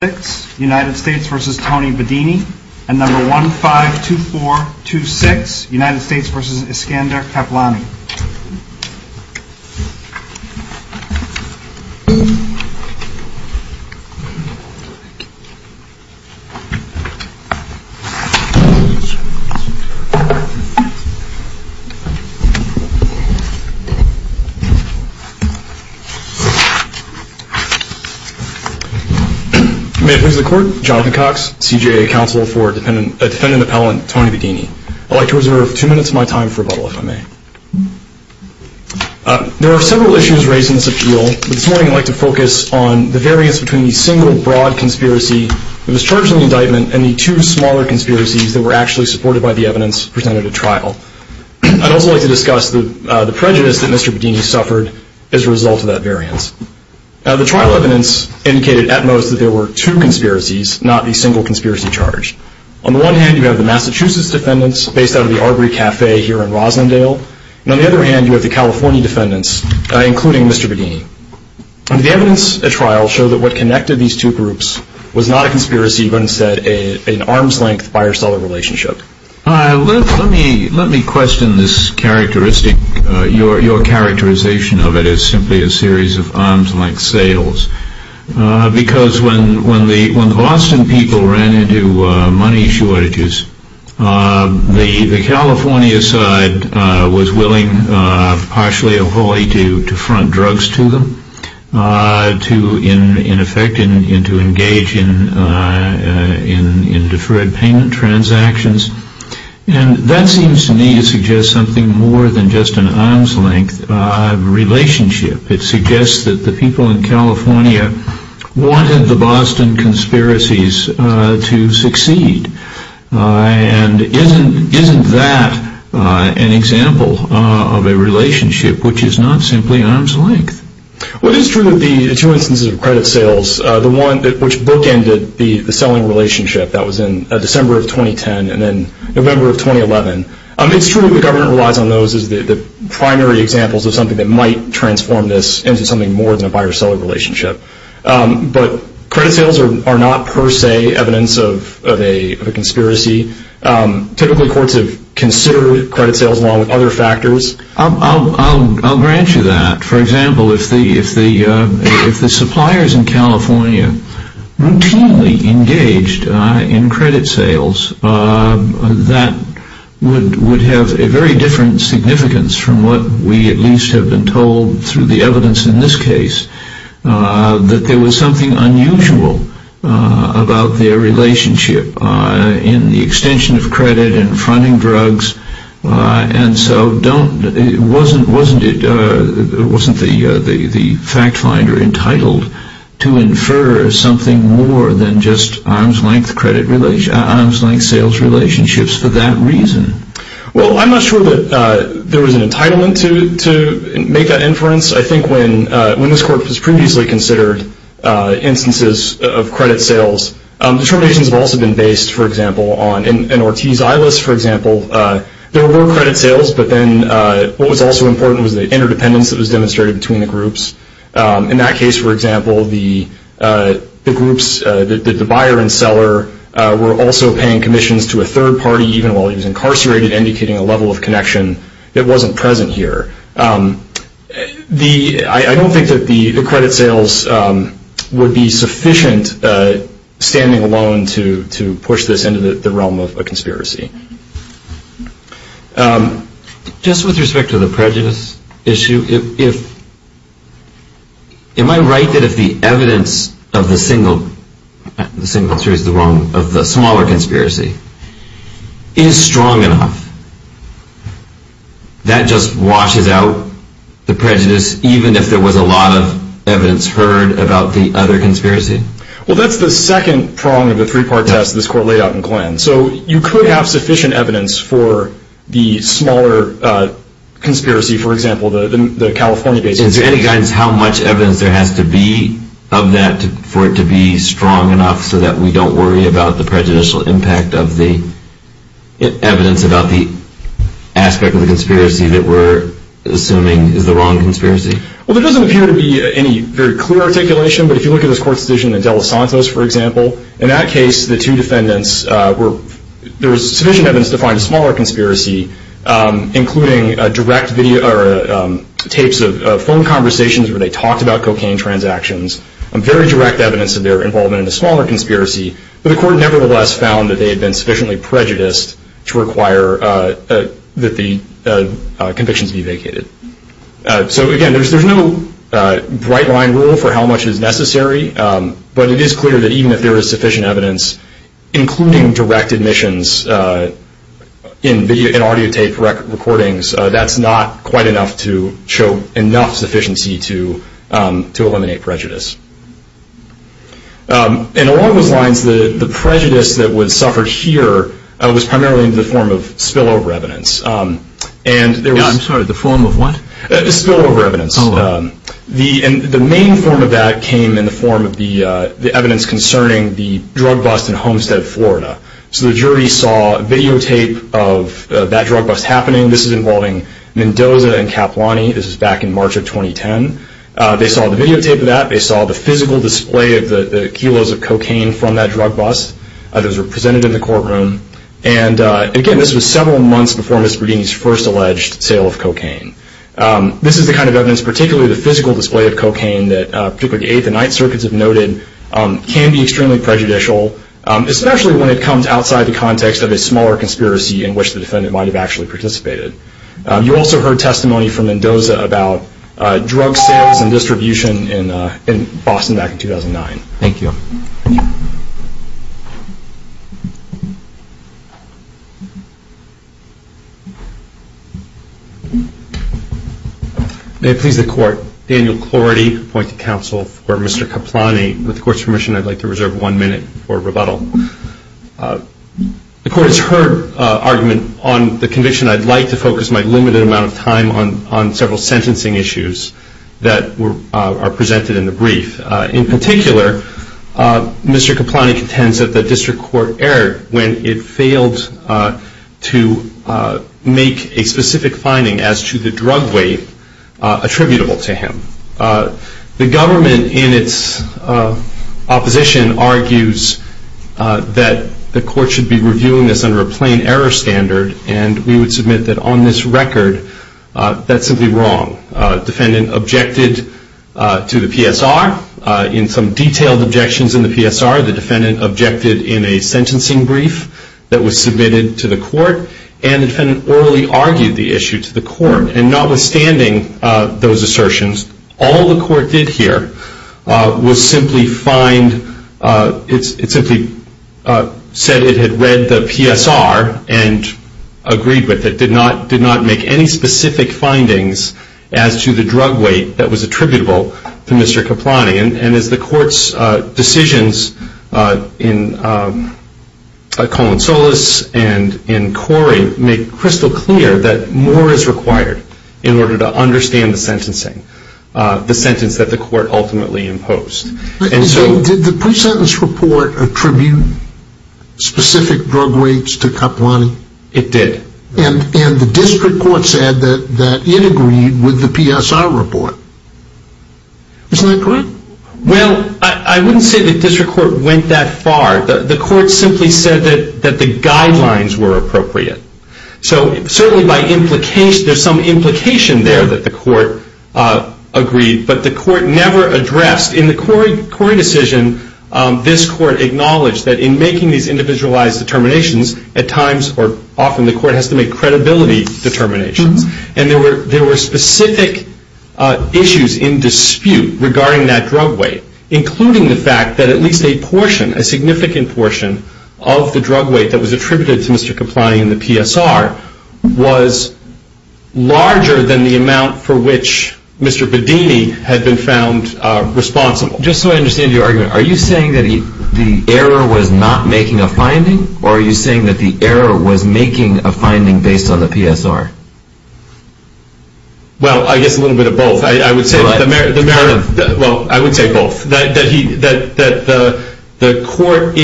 and number 152426 United States v. Iskandar Keplani. May it please the Court, Jonathan Cox, CJA Counsel for Defendant Appellant Tony Bedini. I'd like to reserve two minutes of my time for rebuttal, if I may. There are several issues raised in this appeal, but this morning I'd like to focus on the variance between the single, broad conspiracy that was charged in the indictment and the two smaller conspiracies that were actually supported by the evidence presented at trial. I'd also like to discuss the prejudice that Mr. Bedini suffered as a result of that variance. The trial evidence indicated at most that there were two conspiracies, not the single conspiracy charged. On the one hand, you have the Massachusetts defendants, based out of the Arbery Cafe here in Roslindale. On the other hand, you have the California defendants, including Mr. Bedini. The evidence at trial showed that what connected these two groups was not a conspiracy, but instead an arm's-length buyer-seller relationship. Let me question your characterization of it as simply a series of arm's-length sales. Because when the Boston people ran into money shortages, the California side was willing, partially or wholly, to front drugs to them, to engage in deferred payment transactions. And that seems to me to suggest something more than just an arm's-length relationship. It suggests that the people in California wanted the Boston conspiracies to succeed. And isn't that an example of a relationship which is not simply arm's-length? Well, it is true that the two instances of credit sales, the one which bookended the selling relationship that was in December of 2010 and then November of 2011, it's true that the government relies on those as the primary examples of something that might transform this into something more than a buyer-seller relationship. But credit sales are not per se evidence of a conspiracy. Typically, courts have considered credit sales along with other factors. I'll grant you that. For example, if the suppliers in California routinely engaged in credit sales, that would have a very different significance from what we at least have been told through the evidence in this case, that there was something unusual about their relationship in the extension of credit and fronting drugs. And so wasn't the fact finder entitled to infer something more than just arm's-length sales relationships for that reason? Well, I'm not sure that there was an entitlement to make that inference. I think when this court was previously considered instances of credit sales, determinations have also been based, for example, on an Ortiz-Eilis, for example. There were more credit sales, but then what was also important was the interdependence that was demonstrated between the groups. In that case, for example, the groups, the buyer and seller, were also paying commissions to a third party even while he was incarcerated, indicating a level of connection that wasn't present here. I don't think that the credit sales would be sufficient standing alone to push this into the realm of a conspiracy. Just with respect to the prejudice issue, am I right that if the evidence of the single series, which is the smaller conspiracy, is strong enough, that just washes out the prejudice, even if there was a lot of evidence heard about the other conspiracy? Well, that's the second prong of the three-part test this court laid out in Glenn. So you could have sufficient evidence for the smaller conspiracy, for example, the California case. Is there any guidance how much evidence there has to be of that for it to be strong enough so that we don't worry about the prejudicial impact of the evidence about the aspect of the conspiracy that we're assuming is the wrong conspiracy? Well, there doesn't appear to be any very clear articulation, but if you look at this court's decision in De Los Santos, for example, in that case, the two defendants were, there was sufficient evidence to find a smaller conspiracy, including direct tapes of phone conversations where they talked about cocaine transactions, very direct evidence of their involvement in the smaller conspiracy, but the court nevertheless found that they had been sufficiently prejudiced to require that the convictions be vacated. So, again, there's no bright-line rule for how much is necessary, but it is clear that even if there is sufficient evidence, including direct admissions in audio tape recordings, that's not quite enough to show enough sufficiency to eliminate prejudice. And along those lines, the prejudice that was suffered here was primarily in the form of spillover evidence. I'm sorry, the form of what? Spillover evidence. The main form of that came in the form of the evidence concerning the drug bust in Homestead, Florida. So the jury saw videotape of that drug bust happening. This is involving Mendoza and Caplani. This is back in March of 2010. They saw the videotape of that. They saw the physical display of the kilos of cocaine from that drug bust. Those were presented in the courtroom. And, again, this was several months before Misbridini's first alleged sale of cocaine. This is the kind of evidence, particularly the physical display of cocaine, that particularly the Eighth and Ninth Circuits have noted can be extremely prejudicial, especially when it comes outside the context of a smaller conspiracy in which the defendant might have actually participated. You also heard testimony from Mendoza about drug sales and distribution in Boston back in 2009. Thank you. May it please the Court, Daniel Clorty appointing counsel for Mr. Caplani. With the Court's permission, I'd like to reserve one minute for rebuttal. The Court has heard argument on the conviction. I'd like to focus my limited amount of time on several sentencing issues that are presented in the brief. In particular, Mr. Caplani contends that the district court erred when it failed to make a specific finding as to the drug weight attributable to him. The government, in its opposition, argues that the Court should be reviewing this under a plain error standard, and we would submit that on this record that's simply wrong. The defendant objected to the PSR. In some detailed objections in the PSR, the defendant objected in a sentencing brief that was submitted to the Court, and the defendant orally argued the issue to the Court. And notwithstanding those assertions, all the Court did here was simply find, it simply said it had read the PSR and agreed with it, did not make any specific findings as to the drug weight that was attributable to Mr. Caplani. And as the Court's decisions in Colon Solis and in Corey make crystal clear, that more is required in order to understand the sentencing, the sentence that the Court ultimately imposed. Did the pre-sentence report attribute specific drug weights to Caplani? It did. And the district court said that it agreed with the PSR report. Isn't that correct? Well, I wouldn't say the district court went that far. The Court simply said that the guidelines were appropriate. So certainly by implication, there's some implication there that the Court agreed, but the Court never addressed. In the Corey decision, this Court acknowledged that in making these individualized determinations, at times or often the Court has to make credibility determinations. And there were specific issues in dispute regarding that drug weight, including the fact that at least a portion, a significant portion, of the drug weight that was attributed to Mr. Caplani in the PSR was larger than the amount for which Mr. Bedini had been found responsible. Just so I understand your argument, are you saying that the error was not making a finding, or are you saying that the error was making a finding based on the PSR? Well, I guess a little bit of both. I would say both. That the Court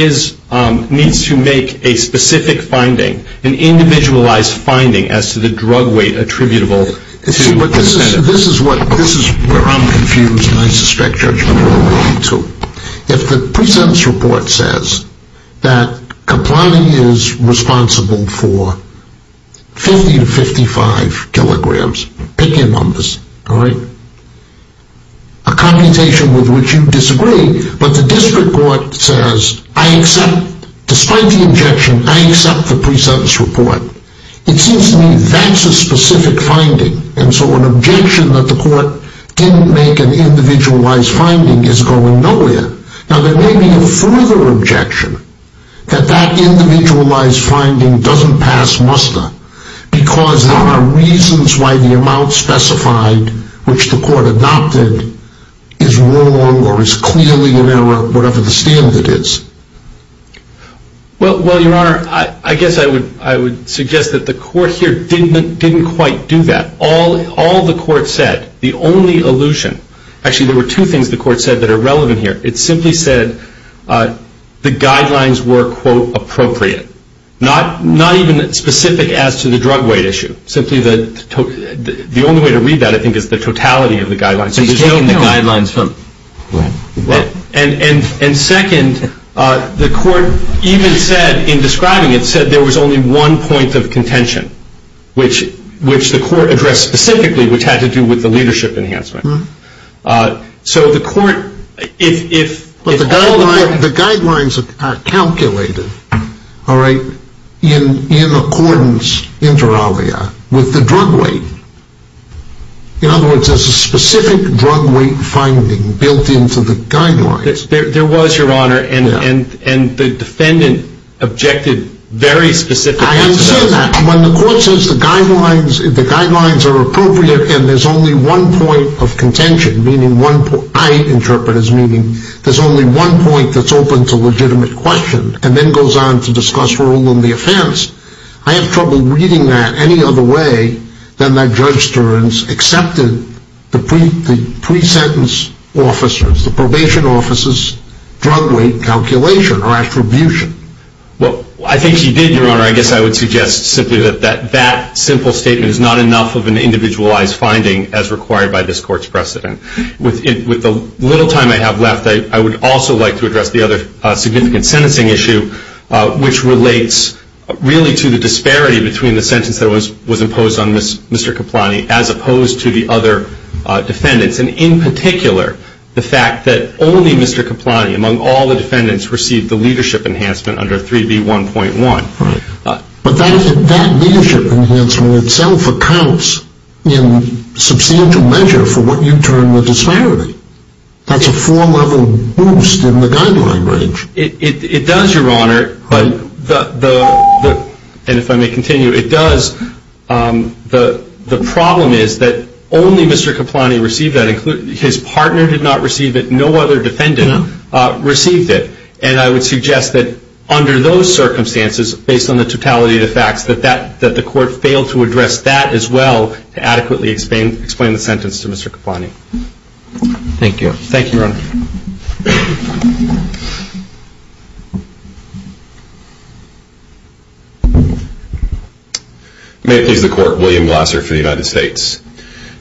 needs to make a specific finding, an individualized finding as to the drug weight attributable to the defendant. This is where I'm confused, and I suspect Judge Miller will be too. If the PSR says that Caplani is responsible for 50 to 55 kilograms, pick your numbers, a computation with which you disagree, but the District Court says, I accept, despite the objection, I accept the PSR, it seems to me that's a specific finding, and so an objection that the Court didn't make an individualized finding is going nowhere. Now, there may be a further objection, that that individualized finding doesn't pass muster, because there are reasons why the amount specified, which the Court adopted, is wrong or is clearly an error, whatever the standard is. Well, Your Honor, I guess I would suggest that the Court here didn't quite do that. All the Court said, the only allusion, actually there were two things the Court said that are relevant here, it simply said the guidelines were, quote, appropriate, not even specific as to the drug weight issue. The only way to read that, I think, is the totality of the guidelines. And second, the Court even said, in describing it, said there was only one point of contention, which the Court addressed specifically, which had to do with the leadership enhancement. So the Court, if... The guidelines are calculated, all right, in accordance, inter alia, with the drug weight. In other words, there's a specific drug weight finding built into the guidelines. There was, Your Honor, and the defendant objected very specifically to that. I have said that. When the Court says the guidelines are appropriate and there's only one point of contention, meaning one point, I interpret as meaning there's only one point that's open to legitimate question, and then goes on to discuss rule in the offense, I have trouble reading that any other way than that Judge Stearns accepted the pre-sentence officers, the probation officers' drug weight calculation or attribution. Well, I think she did, Your Honor. I guess I would suggest simply that that simple statement is not enough of an individualized finding as required by this Court's precedent. With the little time I have left, I would also like to address the other significant sentencing issue, which relates really to the disparity between the sentence that was imposed on Mr. Caplani as opposed to the other defendants, and in particular, the fact that only Mr. Caplani among all the defendants received the leadership enhancement under 3B1.1. But that leadership enhancement itself accounts in substantial measure for what you term the disparity. That's a four-level boost in the guideline range. It does, Your Honor. And if I may continue, it does. The problem is that only Mr. Caplani received that. His partner did not receive it. No other defendant received it. And I would suggest that under those circumstances, based on the totality of the facts, that the Court fail to address that as well to adequately explain the sentence to Mr. Caplani. Thank you. Thank you, Your Honor. May it please the Court. William Glasser for the United States.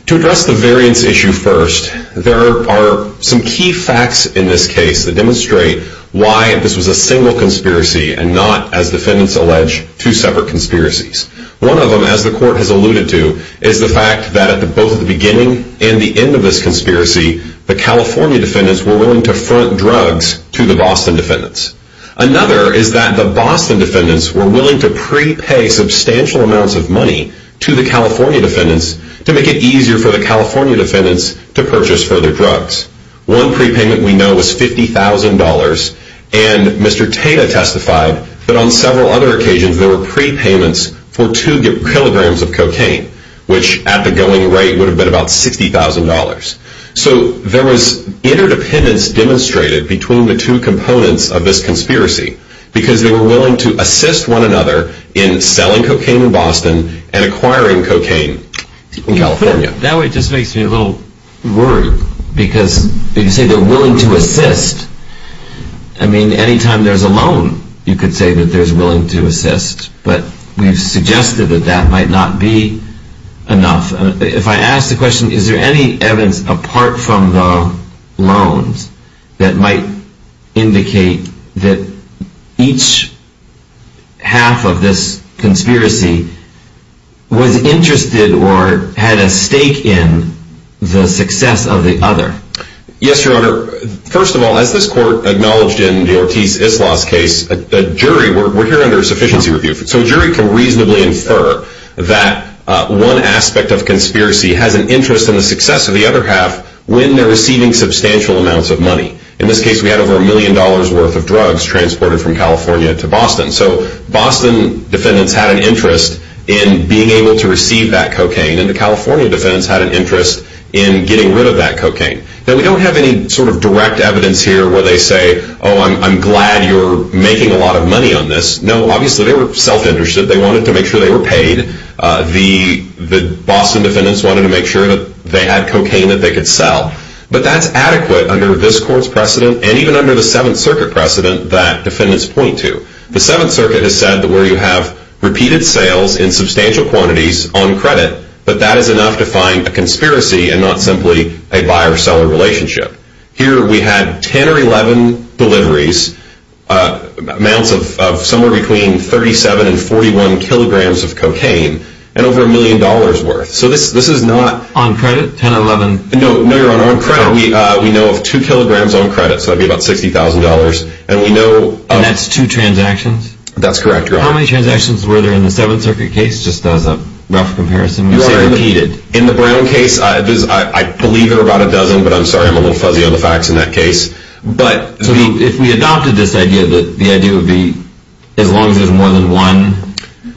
To address the variance issue first, there are some key facts in this case that demonstrate why this was a single conspiracy and not, as defendants allege, two separate conspiracies. One of them, as the Court has alluded to, is the fact that at both the beginning and the end of this conspiracy, the California defendants were willing to front drugs to the Boston defendants. Another is that the Boston defendants were willing to prepay substantial amounts of money to the California defendants to make it easier for the California defendants to purchase further drugs. One prepayment we know was $50,000, and Mr. Tata testified that on several other occasions there were prepayments for two kilograms of cocaine, which at the going rate would have been about $60,000. So there was interdependence demonstrated between the two components of this conspiracy because they were willing to assist one another in selling cocaine in Boston and acquiring cocaine in California. That just makes me a little worried because you say they're willing to assist. I mean, any time there's a loan, you could say that they're willing to assist, but we've suggested that that might not be enough. If I ask the question, is there any evidence apart from the loans that might indicate that each half of this conspiracy was interested or had a stake in the success of the other? Yes, Your Honor. First of all, as this Court acknowledged in the Ortiz-Islaws case, the jury, we're here under a sufficiency review, so a jury can reasonably infer that one aspect of conspiracy has an interest in the success of the other half when they're receiving substantial amounts of money. In this case, we had over $1 million worth of drugs transported from California to Boston. So Boston defendants had an interest in being able to receive that cocaine, and the California defendants had an interest in getting rid of that cocaine. Now, we don't have any sort of direct evidence here where they say, oh, I'm glad you're making a lot of money on this. No, obviously they were self-interested. They wanted to make sure they were paid. The Boston defendants wanted to make sure that they had cocaine that they could sell. But that's adequate under this Court's precedent, and even under the Seventh Circuit precedent that defendants point to. The Seventh Circuit has said that where you have repeated sales in substantial quantities on credit, but that is enough to find a conspiracy and not simply a buyer-seller relationship. Here we had 10 or 11 deliveries, amounts of somewhere between 37 and 41 kilograms of cocaine, and over $1 million worth. So this is not... On credit? 10 or 11? No, Your Honor, on credit. We know of 2 kilograms on credit, so that would be about $60,000. And we know of... And that's two transactions? That's correct, Your Honor. How many transactions were there in the Seventh Circuit case, just as a rough comparison? You say repeated. In the Brown case, I believe there were about a dozen, but I'm sorry, I'm a little fuzzy on the facts in that case. But if we adopted this idea that the idea would be as long as there's more than one,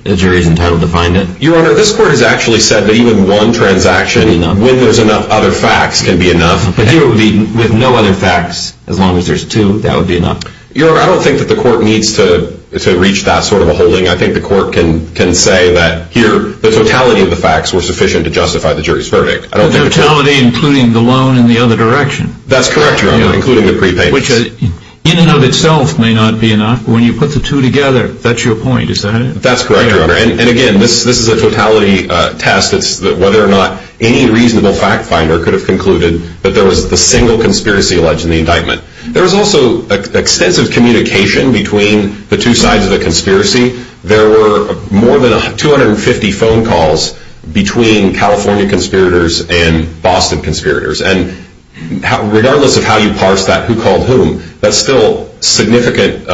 the jury's entitled to find it? Your Honor, this Court has actually said that even one transaction, when there's enough other facts, can be enough. But here it would be with no other facts, as long as there's two, that would be enough? Your Honor, I don't think that the Court needs to reach that sort of a holding. I think the Court can say that here the totality of the facts were sufficient to justify the jury's verdict. The totality including the loan in the other direction? That's correct, Your Honor, including the prepayments. Which in and of itself may not be enough, but when you put the two together, that's your point, is that it? That's correct, Your Honor. And again, this is a totality test. It's whether or not any reasonable fact finder could have concluded that there was a single conspiracy alleged in the indictment. There was also extensive communication between the two sides of the conspiracy. There were more than 250 phone calls between California conspirators and Boston conspirators. And regardless of how you parse that, who called whom, that's still significant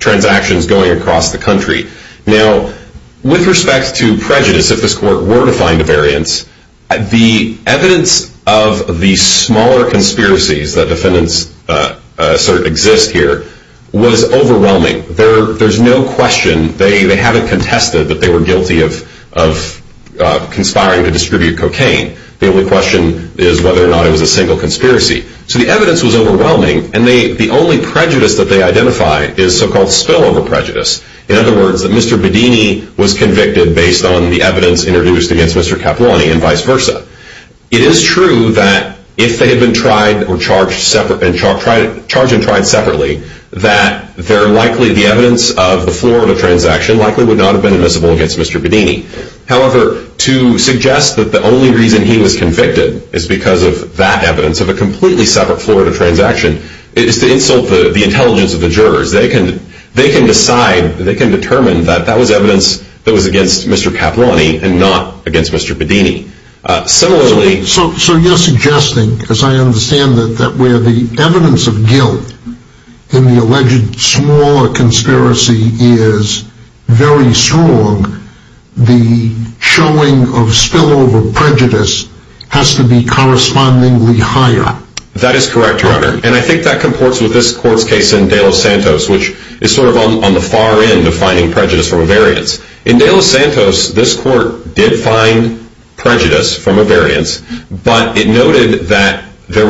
transactions going across the country. Now, with respect to prejudice, if this Court were to find a variance, the evidence of the smaller conspiracies that defendants assert exist here was overwhelming. There's no question. They haven't contested that they were guilty of conspiring to distribute cocaine. The only question is whether or not it was a single conspiracy. So the evidence was overwhelming, and the only prejudice that they identified is so-called spillover prejudice. In other words, that Mr. Bedini was convicted based on the evidence introduced against Mr. Capuoni and vice versa. It is true that if they had been charged and tried separately, that the evidence of the Florida transaction likely would not have been admissible against Mr. Bedini. However, to suggest that the only reason he was convicted is because of that evidence, of a completely separate Florida transaction, is to insult the intelligence of the jurors. They can decide, they can determine that that was evidence that was against Mr. Capuoni and not against Mr. Bedini. Similarly... So you're suggesting, as I understand it, that where the evidence of guilt in the alleged smaller conspiracy is very strong, the showing of spillover prejudice has to be correspondingly higher. That is correct, Your Honor. And I think that comports with this court's case in De Los Santos, which is sort of on the far end of finding prejudice from a variance. In De Los Santos, this court did find prejudice from a variance, but it noted that the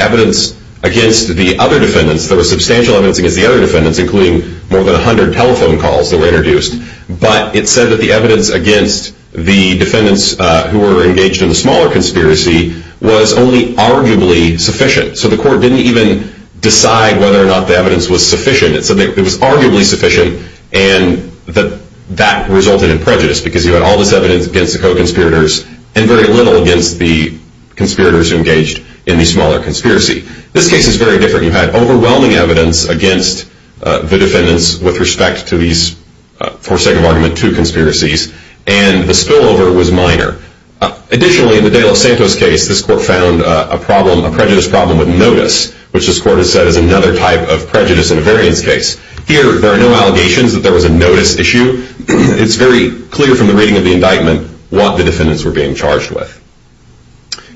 evidence against the other defendants, there was substantial evidence against the other defendants, including more than 100 telephone calls that were introduced, but it said that the evidence against the defendants who were engaged in the smaller conspiracy was only arguably sufficient. So the court didn't even decide whether or not the evidence was sufficient. It said that it was arguably sufficient and that that resulted in prejudice, because you had all this evidence against the co-conspirators and very little against the conspirators engaged in the smaller conspiracy. This case is very different. You had overwhelming evidence against the defendants with respect to these forsaken argument two conspiracies, and the spillover was minor. Additionally, in the De Los Santos case, this court found a prejudice problem with notice, which this court has said is another type of prejudice in a variance case. Here, there are no allegations that there was a notice issue. It's very clear from the reading of the indictment what the defendants were being charged with.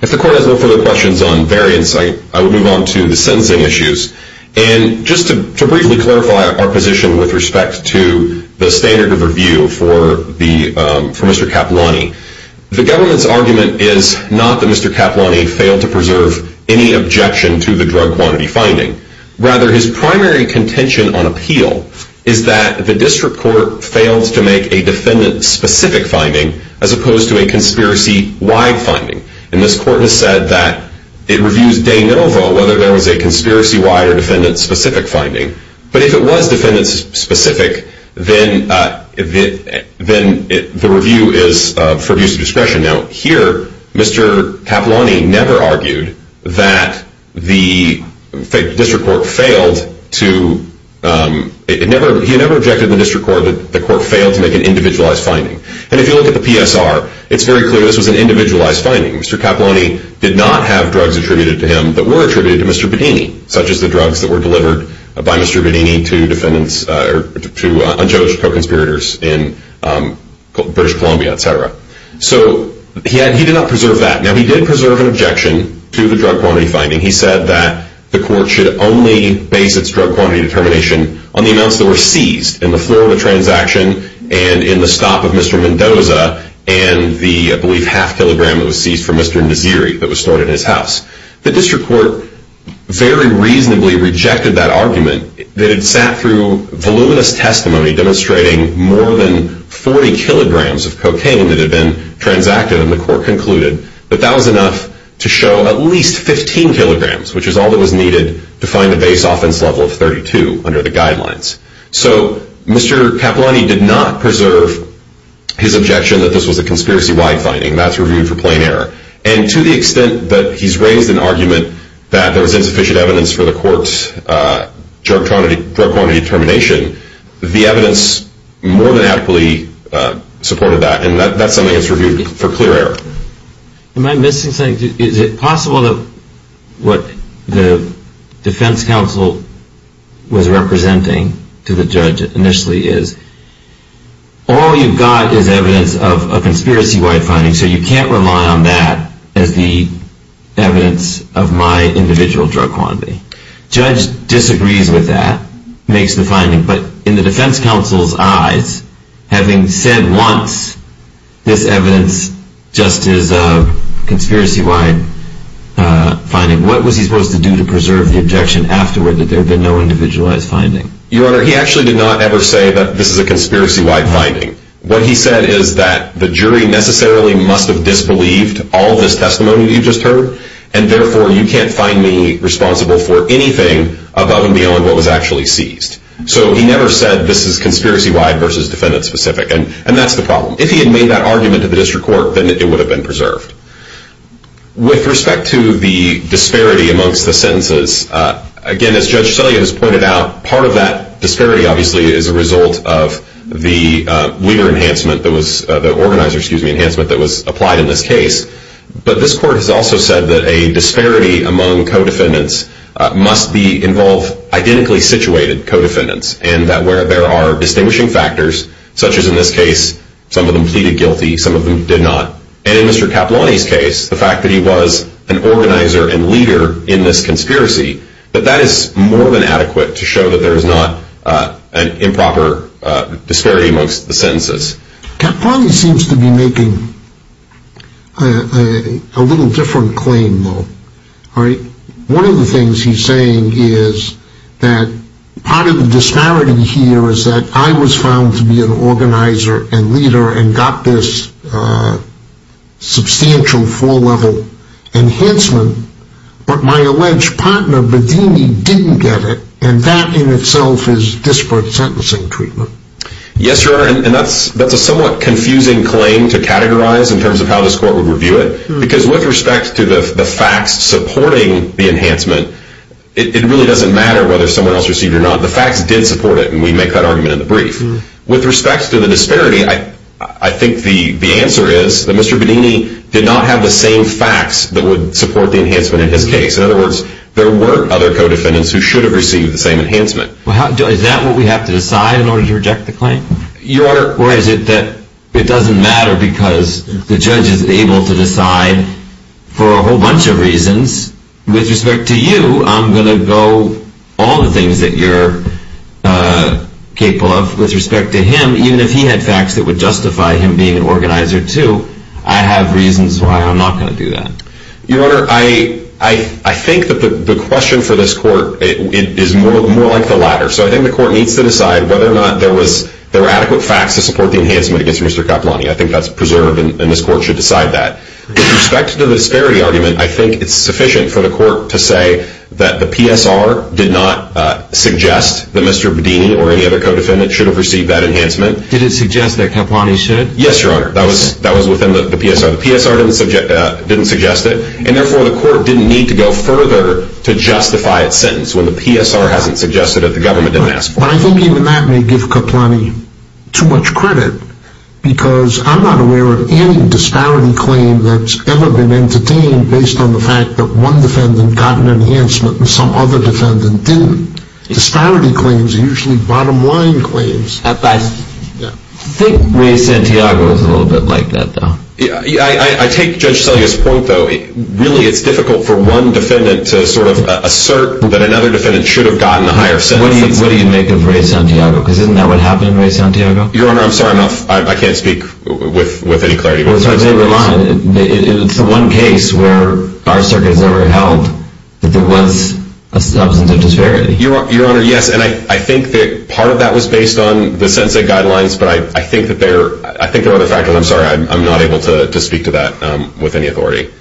If the court has no further questions on variance, I will move on to the sentencing issues. And just to briefly clarify our position with respect to the standard of review for Mr. Capillani, the government's argument is not that Mr. Capillani failed to preserve any objection to the drug quantity finding. Rather, his primary contention on appeal is that the district court failed to make a defendant-specific finding as opposed to a conspiracy-wide finding. And this court has said that it reviews de novo whether there was a conspiracy-wide or defendant-specific finding. But if it was defendant-specific, then the review is for abuse of discretion. Now, here, Mr. Capillani never argued that the district court failed to – he never objected to the district court that the court failed to make an individualized finding. And if you look at the PSR, it's very clear this was an individualized finding. Mr. Capillani did not have drugs attributed to him that were attributed to Mr. Bedini, such as the drugs that were delivered by Mr. Bedini to defendants – to unjudged co-conspirators in British Columbia, etc. So he did not preserve that. Now, he did preserve an objection to the drug quantity finding. He said that the court should only base its drug quantity determination on the amounts that were seized in the Florida transaction and in the stop of Mr. Mendoza and the, I believe, half kilogram that was seized from Mr. Naziri that was stored in his house. The district court very reasonably rejected that argument. They had sat through voluminous testimony demonstrating more than 40 kilograms of cocaine that had been transacted, and the court concluded that that was enough to show at least 15 kilograms, which is all that was needed to find the base offense level of 32 under the guidelines. So Mr. Capillani did not preserve his objection that this was a conspiracy-wide finding. That's reviewed for plain error. And to the extent that he's raised an argument that there was insufficient evidence for the court's drug quantity determination, the evidence more than adequately supported that, and that's something that's reviewed for clear error. Am I missing something? Is it possible that what the defense counsel was representing to the judge initially is, all you've got is evidence of a conspiracy-wide finding, so you can't rely on that as the evidence of my individual drug quantity? Judge disagrees with that, makes the finding, but in the defense counsel's eyes, having said once this evidence just is a conspiracy-wide finding, what was he supposed to do to preserve the objection afterward that there had been no individualized finding? Your Honor, he actually did not ever say that this is a conspiracy-wide finding. What he said is that the jury necessarily must have disbelieved all this testimony that you just heard, and therefore you can't find me responsible for anything above and beyond what was actually seized. So he never said this is conspiracy-wide versus defendant-specific, and that's the problem. If he had made that argument to the district court, then it would have been preserved. With respect to the disparity amongst the sentences, again, as Judge Celia has pointed out, part of that disparity obviously is a result of the Weaver enhancement that was, the organizer enhancement that was applied in this case, but this court has also said that a disparity among co-defendants must involve identically situated co-defendants, and that where there are distinguishing factors, such as in this case, some of them pleaded guilty, some of them did not, and in Mr. Caploni's case, the fact that he was an organizer and leader in this conspiracy, that that is more than adequate to show that there is not an improper disparity amongst the sentences. Caploni seems to be making a little different claim, though. One of the things he's saying is that part of the disparity here is that I was found to be an organizer and leader and got this substantial four-level enhancement, but my alleged partner, Bedini, didn't get it, and that in itself is disparate sentencing treatment. Yes, Your Honor, and that's a somewhat confusing claim to categorize in terms of how this court would review it, because with respect to the facts supporting the enhancement, it really doesn't matter whether someone else received it or not. The facts did support it, and we make that argument in the brief. With respect to the disparity, I think the answer is that Mr. Bedini did not have the same facts that would support the enhancement in his case. In other words, there were other co-defendants who should have received the same enhancement. Is that what we have to decide in order to reject the claim? Your Honor, or is it that it doesn't matter because the judge is able to decide for a whole bunch of reasons? With respect to you, I'm going to go all the things that you're capable of. With respect to him, even if he had facts that would justify him being an organizer too, I have reasons why I'm not going to do that. Your Honor, I think that the question for this court is more like the latter. So I think the court needs to decide whether or not there were adequate facts to support the enhancement against Mr. Capulani. I think that's preserved, and this court should decide that. With respect to the disparity argument, I think it's sufficient for the court to say that the PSR did not suggest that Mr. Bedini or any other co-defendant should have received that enhancement. Did it suggest that Capulani should? Yes, Your Honor. That was within the PSR. The PSR didn't suggest it, and therefore the court didn't need to go further to justify its sentence when the PSR hasn't suggested that the government didn't ask for it. But I think even that may give Capulani too much credit, because I'm not aware of any disparity claim that's ever been entertained based on the fact that one defendant got an enhancement and some other defendant didn't. Disparity claims are usually bottom-line claims. At best. I think Ray Santiago is a little bit like that, though. I take Judge Selya's point, though. Really, it's difficult for one defendant to assert that another defendant should have gotten a higher sentence. What do you make of Ray Santiago? Isn't that what happened to Ray Santiago? Your Honor, I'm sorry. I can't speak with any clarity. It's a one case where our circuit has never held that there was a substantive disparity. Your Honor, yes, and I think that part of that was based on the sentencing guidelines, but I think there are other factors. I'm sorry, I'm not able to speak to that with any authority.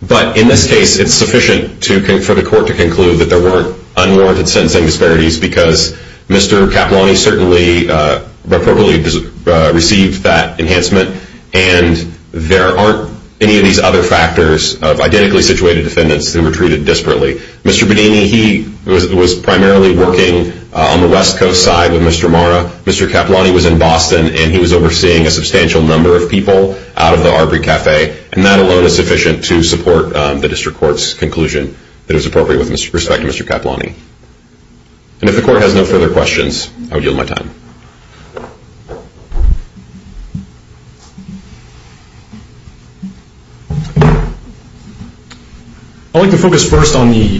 But in this case, it's sufficient for the court to conclude that there weren't unwarranted sentencing disparities, because Mr. Capulani certainly appropriately received that enhancement, and there aren't any of these other factors of identically situated defendants who were treated disparately. Mr. Bonini, he was primarily working on the West Coast side with Mr. Marra. Mr. Capulani was in Boston, and he was overseeing a substantial number of people out of the Arbery Cafe, and that alone is sufficient to support the district court's conclusion that it was appropriate with respect to Mr. Capulani. And if the court has no further questions, I will yield my time. I'd like to focus first on the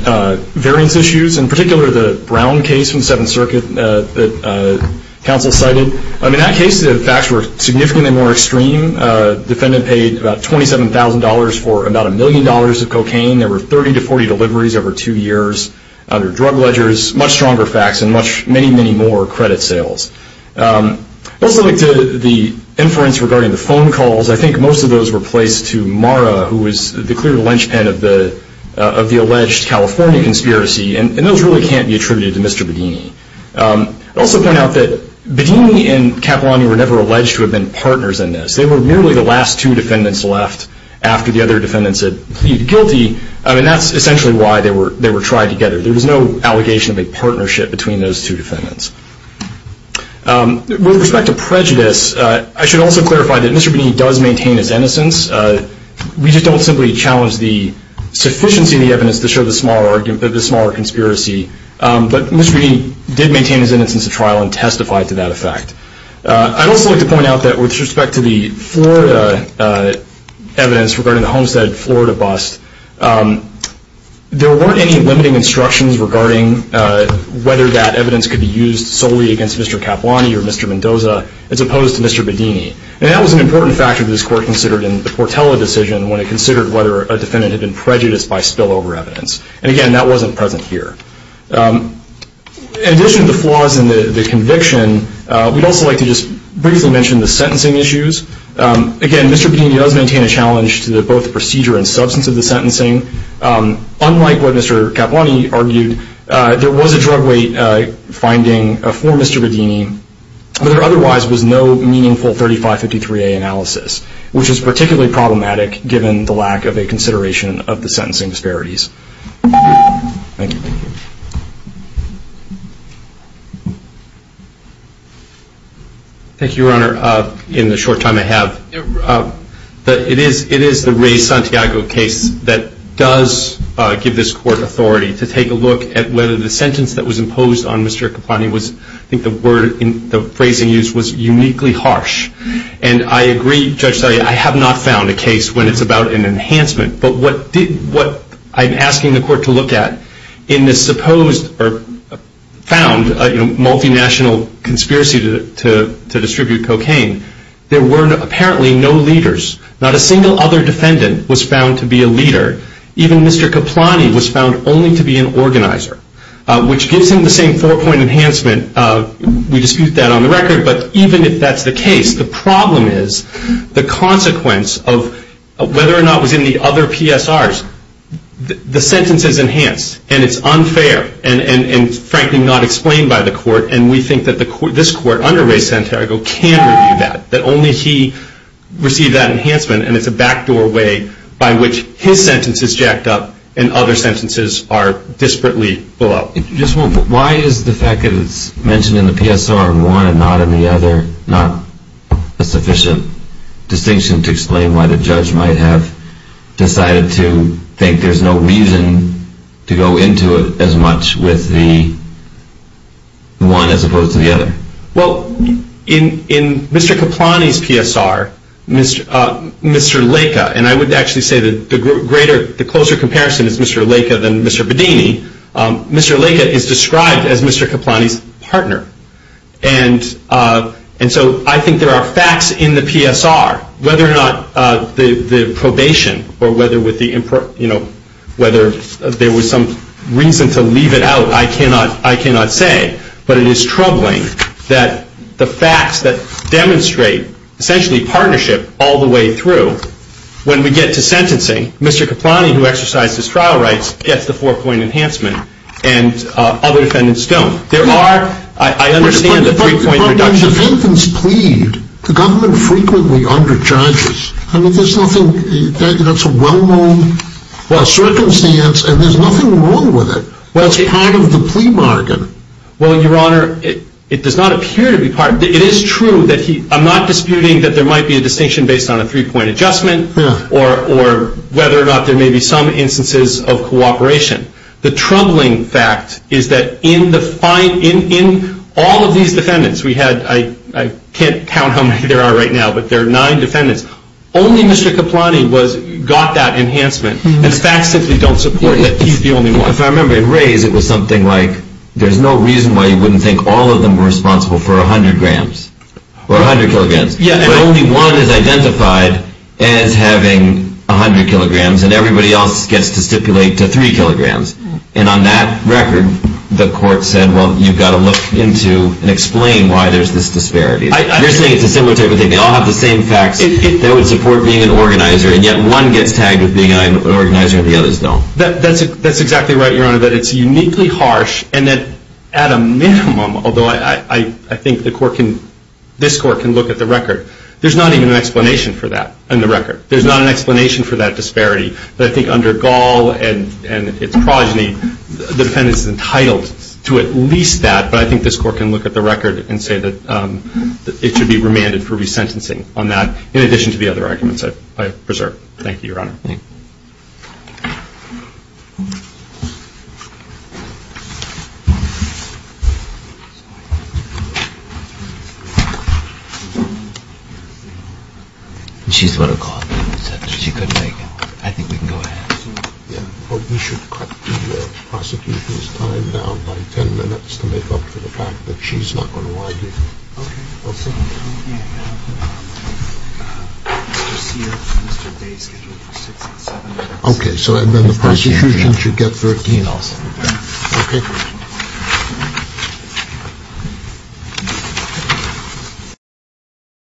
variance issues, in particular the Brown case from the Seventh Circuit that counsel cited. In that case, the facts were significantly more extreme. The defendant paid about $27,000 for about a million dollars of cocaine. There were 30 to 40 deliveries over two years under drug ledgers, much stronger facts, and many, many more credit sales. Let's look to the inference regarding the phone calls. I think most of those were placed to Marra, who was the clear linchpin of the alleged California conspiracy. And those really can't be attributed to Mr. Bedini. I'd also point out that Bedini and Capulani were never alleged to have been partners in this. They were merely the last two defendants left after the other defendants had pleaded guilty, and that's essentially why they were tried together. There was no allegation of a partnership between those two defendants. With respect to prejudice, I should also clarify that Mr. Bedini does maintain his innocence. We just don't simply challenge the sufficiency of the evidence to show the smaller conspiracy. But Mr. Bedini did maintain his innocence at trial and testified to that effect. I'd also like to point out that with respect to the Florida evidence regarding the Homestead Florida bust, there weren't any limiting instructions regarding whether that evidence could be used solely against Mr. Capulani or Mr. Mendoza as opposed to Mr. Bedini. And that was an important factor that this Court considered in the Portela decision when it considered whether a defendant had been prejudiced by spillover evidence. And again, that wasn't present here. In addition to the flaws in the conviction, we'd also like to just briefly mention the sentencing issues. Again, Mr. Bedini does maintain a challenge to both the procedure and substance of the sentencing. Unlike what Mr. Capulani argued, there was a drug weight finding for Mr. Bedini, but there otherwise was no meaningful 3553A analysis, which is particularly problematic given the lack of a consideration of the sentencing disparities. Thank you. Thank you, Your Honor. In the short time I have, it is the Ray Santiago case that does give this Court authority to take a look at whether the sentence that was imposed on Mr. Capulani was, I think the word, the phrasing used was uniquely harsh. And I agree, Judge Saria, I have not found a case when it's about an enhancement. But what I'm asking the Court to look at in this supposed or found multinational conspiracy to distribute cocaine, there were apparently no leaders. Not a single other defendant was found to be a leader. Even Mr. Capulani was found only to be an organizer, which gives him the same four-point enhancement. We dispute that on the record. But even if that's the case, the problem is the consequence of whether or not it was in the other PSRs. The sentence is enhanced, and it's unfair, and frankly not explained by the Court. And we think that this Court under Ray Santiago can review that, that only he received that enhancement. And it's a backdoor way by which his sentence is jacked up and other sentences are disparately below. Just a moment. Why is the fact that it's mentioned in the PSR in one and not in the other not a sufficient distinction to explain why the judge might have decided to think there's no reason to go into it as much with the one as opposed to the other? Well, in Mr. Capulani's PSR, Mr. Laca, and I would actually say the closer comparison is Mr. Laca than Mr. Bedini, Mr. Laca is described as Mr. Capulani's partner. And so I think there are facts in the PSR. Whether or not the probation or whether there was some reason to leave it out, I cannot say. But it is troubling that the facts that demonstrate essentially partnership all the way through, when we get to sentencing, Mr. Capulani, who exercised his trial rights, gets the four-point enhancement, and other defendants don't. There are, I understand the three-point reduction. But when defendants plead, the government frequently underjudges. I mean, there's nothing, that's a well-known circumstance, and there's nothing wrong with it. Well, it's part of the plea bargain. Well, Your Honor, it does not appear to be part of it. It is true that he, I'm not disputing that there might be a distinction based on a three-point adjustment, or whether or not there may be some instances of cooperation. The troubling fact is that in all of these defendants, we had, I can't count how many there are right now, but there are nine defendants, only Mr. Capulani got that enhancement. And the facts simply don't support that he's the only one. If I remember, in Reyes, it was something like, there's no reason why you wouldn't think all of them were responsible for 100 grams, or 100 kilograms. But only one is identified as having 100 kilograms, and everybody else gets to stipulate to 3 kilograms. And on that record, the court said, well, you've got to look into and explain why there's this disparity. You're saying it's a similar type of thing. They all have the same facts that would support being an organizer, and yet one gets tagged with being an organizer and the others don't. That's exactly right, Your Honor, that it's uniquely harsh, and that at a minimum, although I think this court can look at the record, there's not even an explanation for that in the record. There's not an explanation for that disparity. But I think under Gall and its progeny, defendants are entitled to at least that, but I think this court can look at the record and say that it should be remanded for resentencing on that, in addition to the other arguments I've preserved. Thank you, Your Honor. Thank you. She's going to call it. She couldn't make it. I think we can go ahead. We should cut the prosecutor's time down by 10 minutes to make up for the fact that she's not going to argue. Okay. Okay, so then the prosecution should get 13. Okay.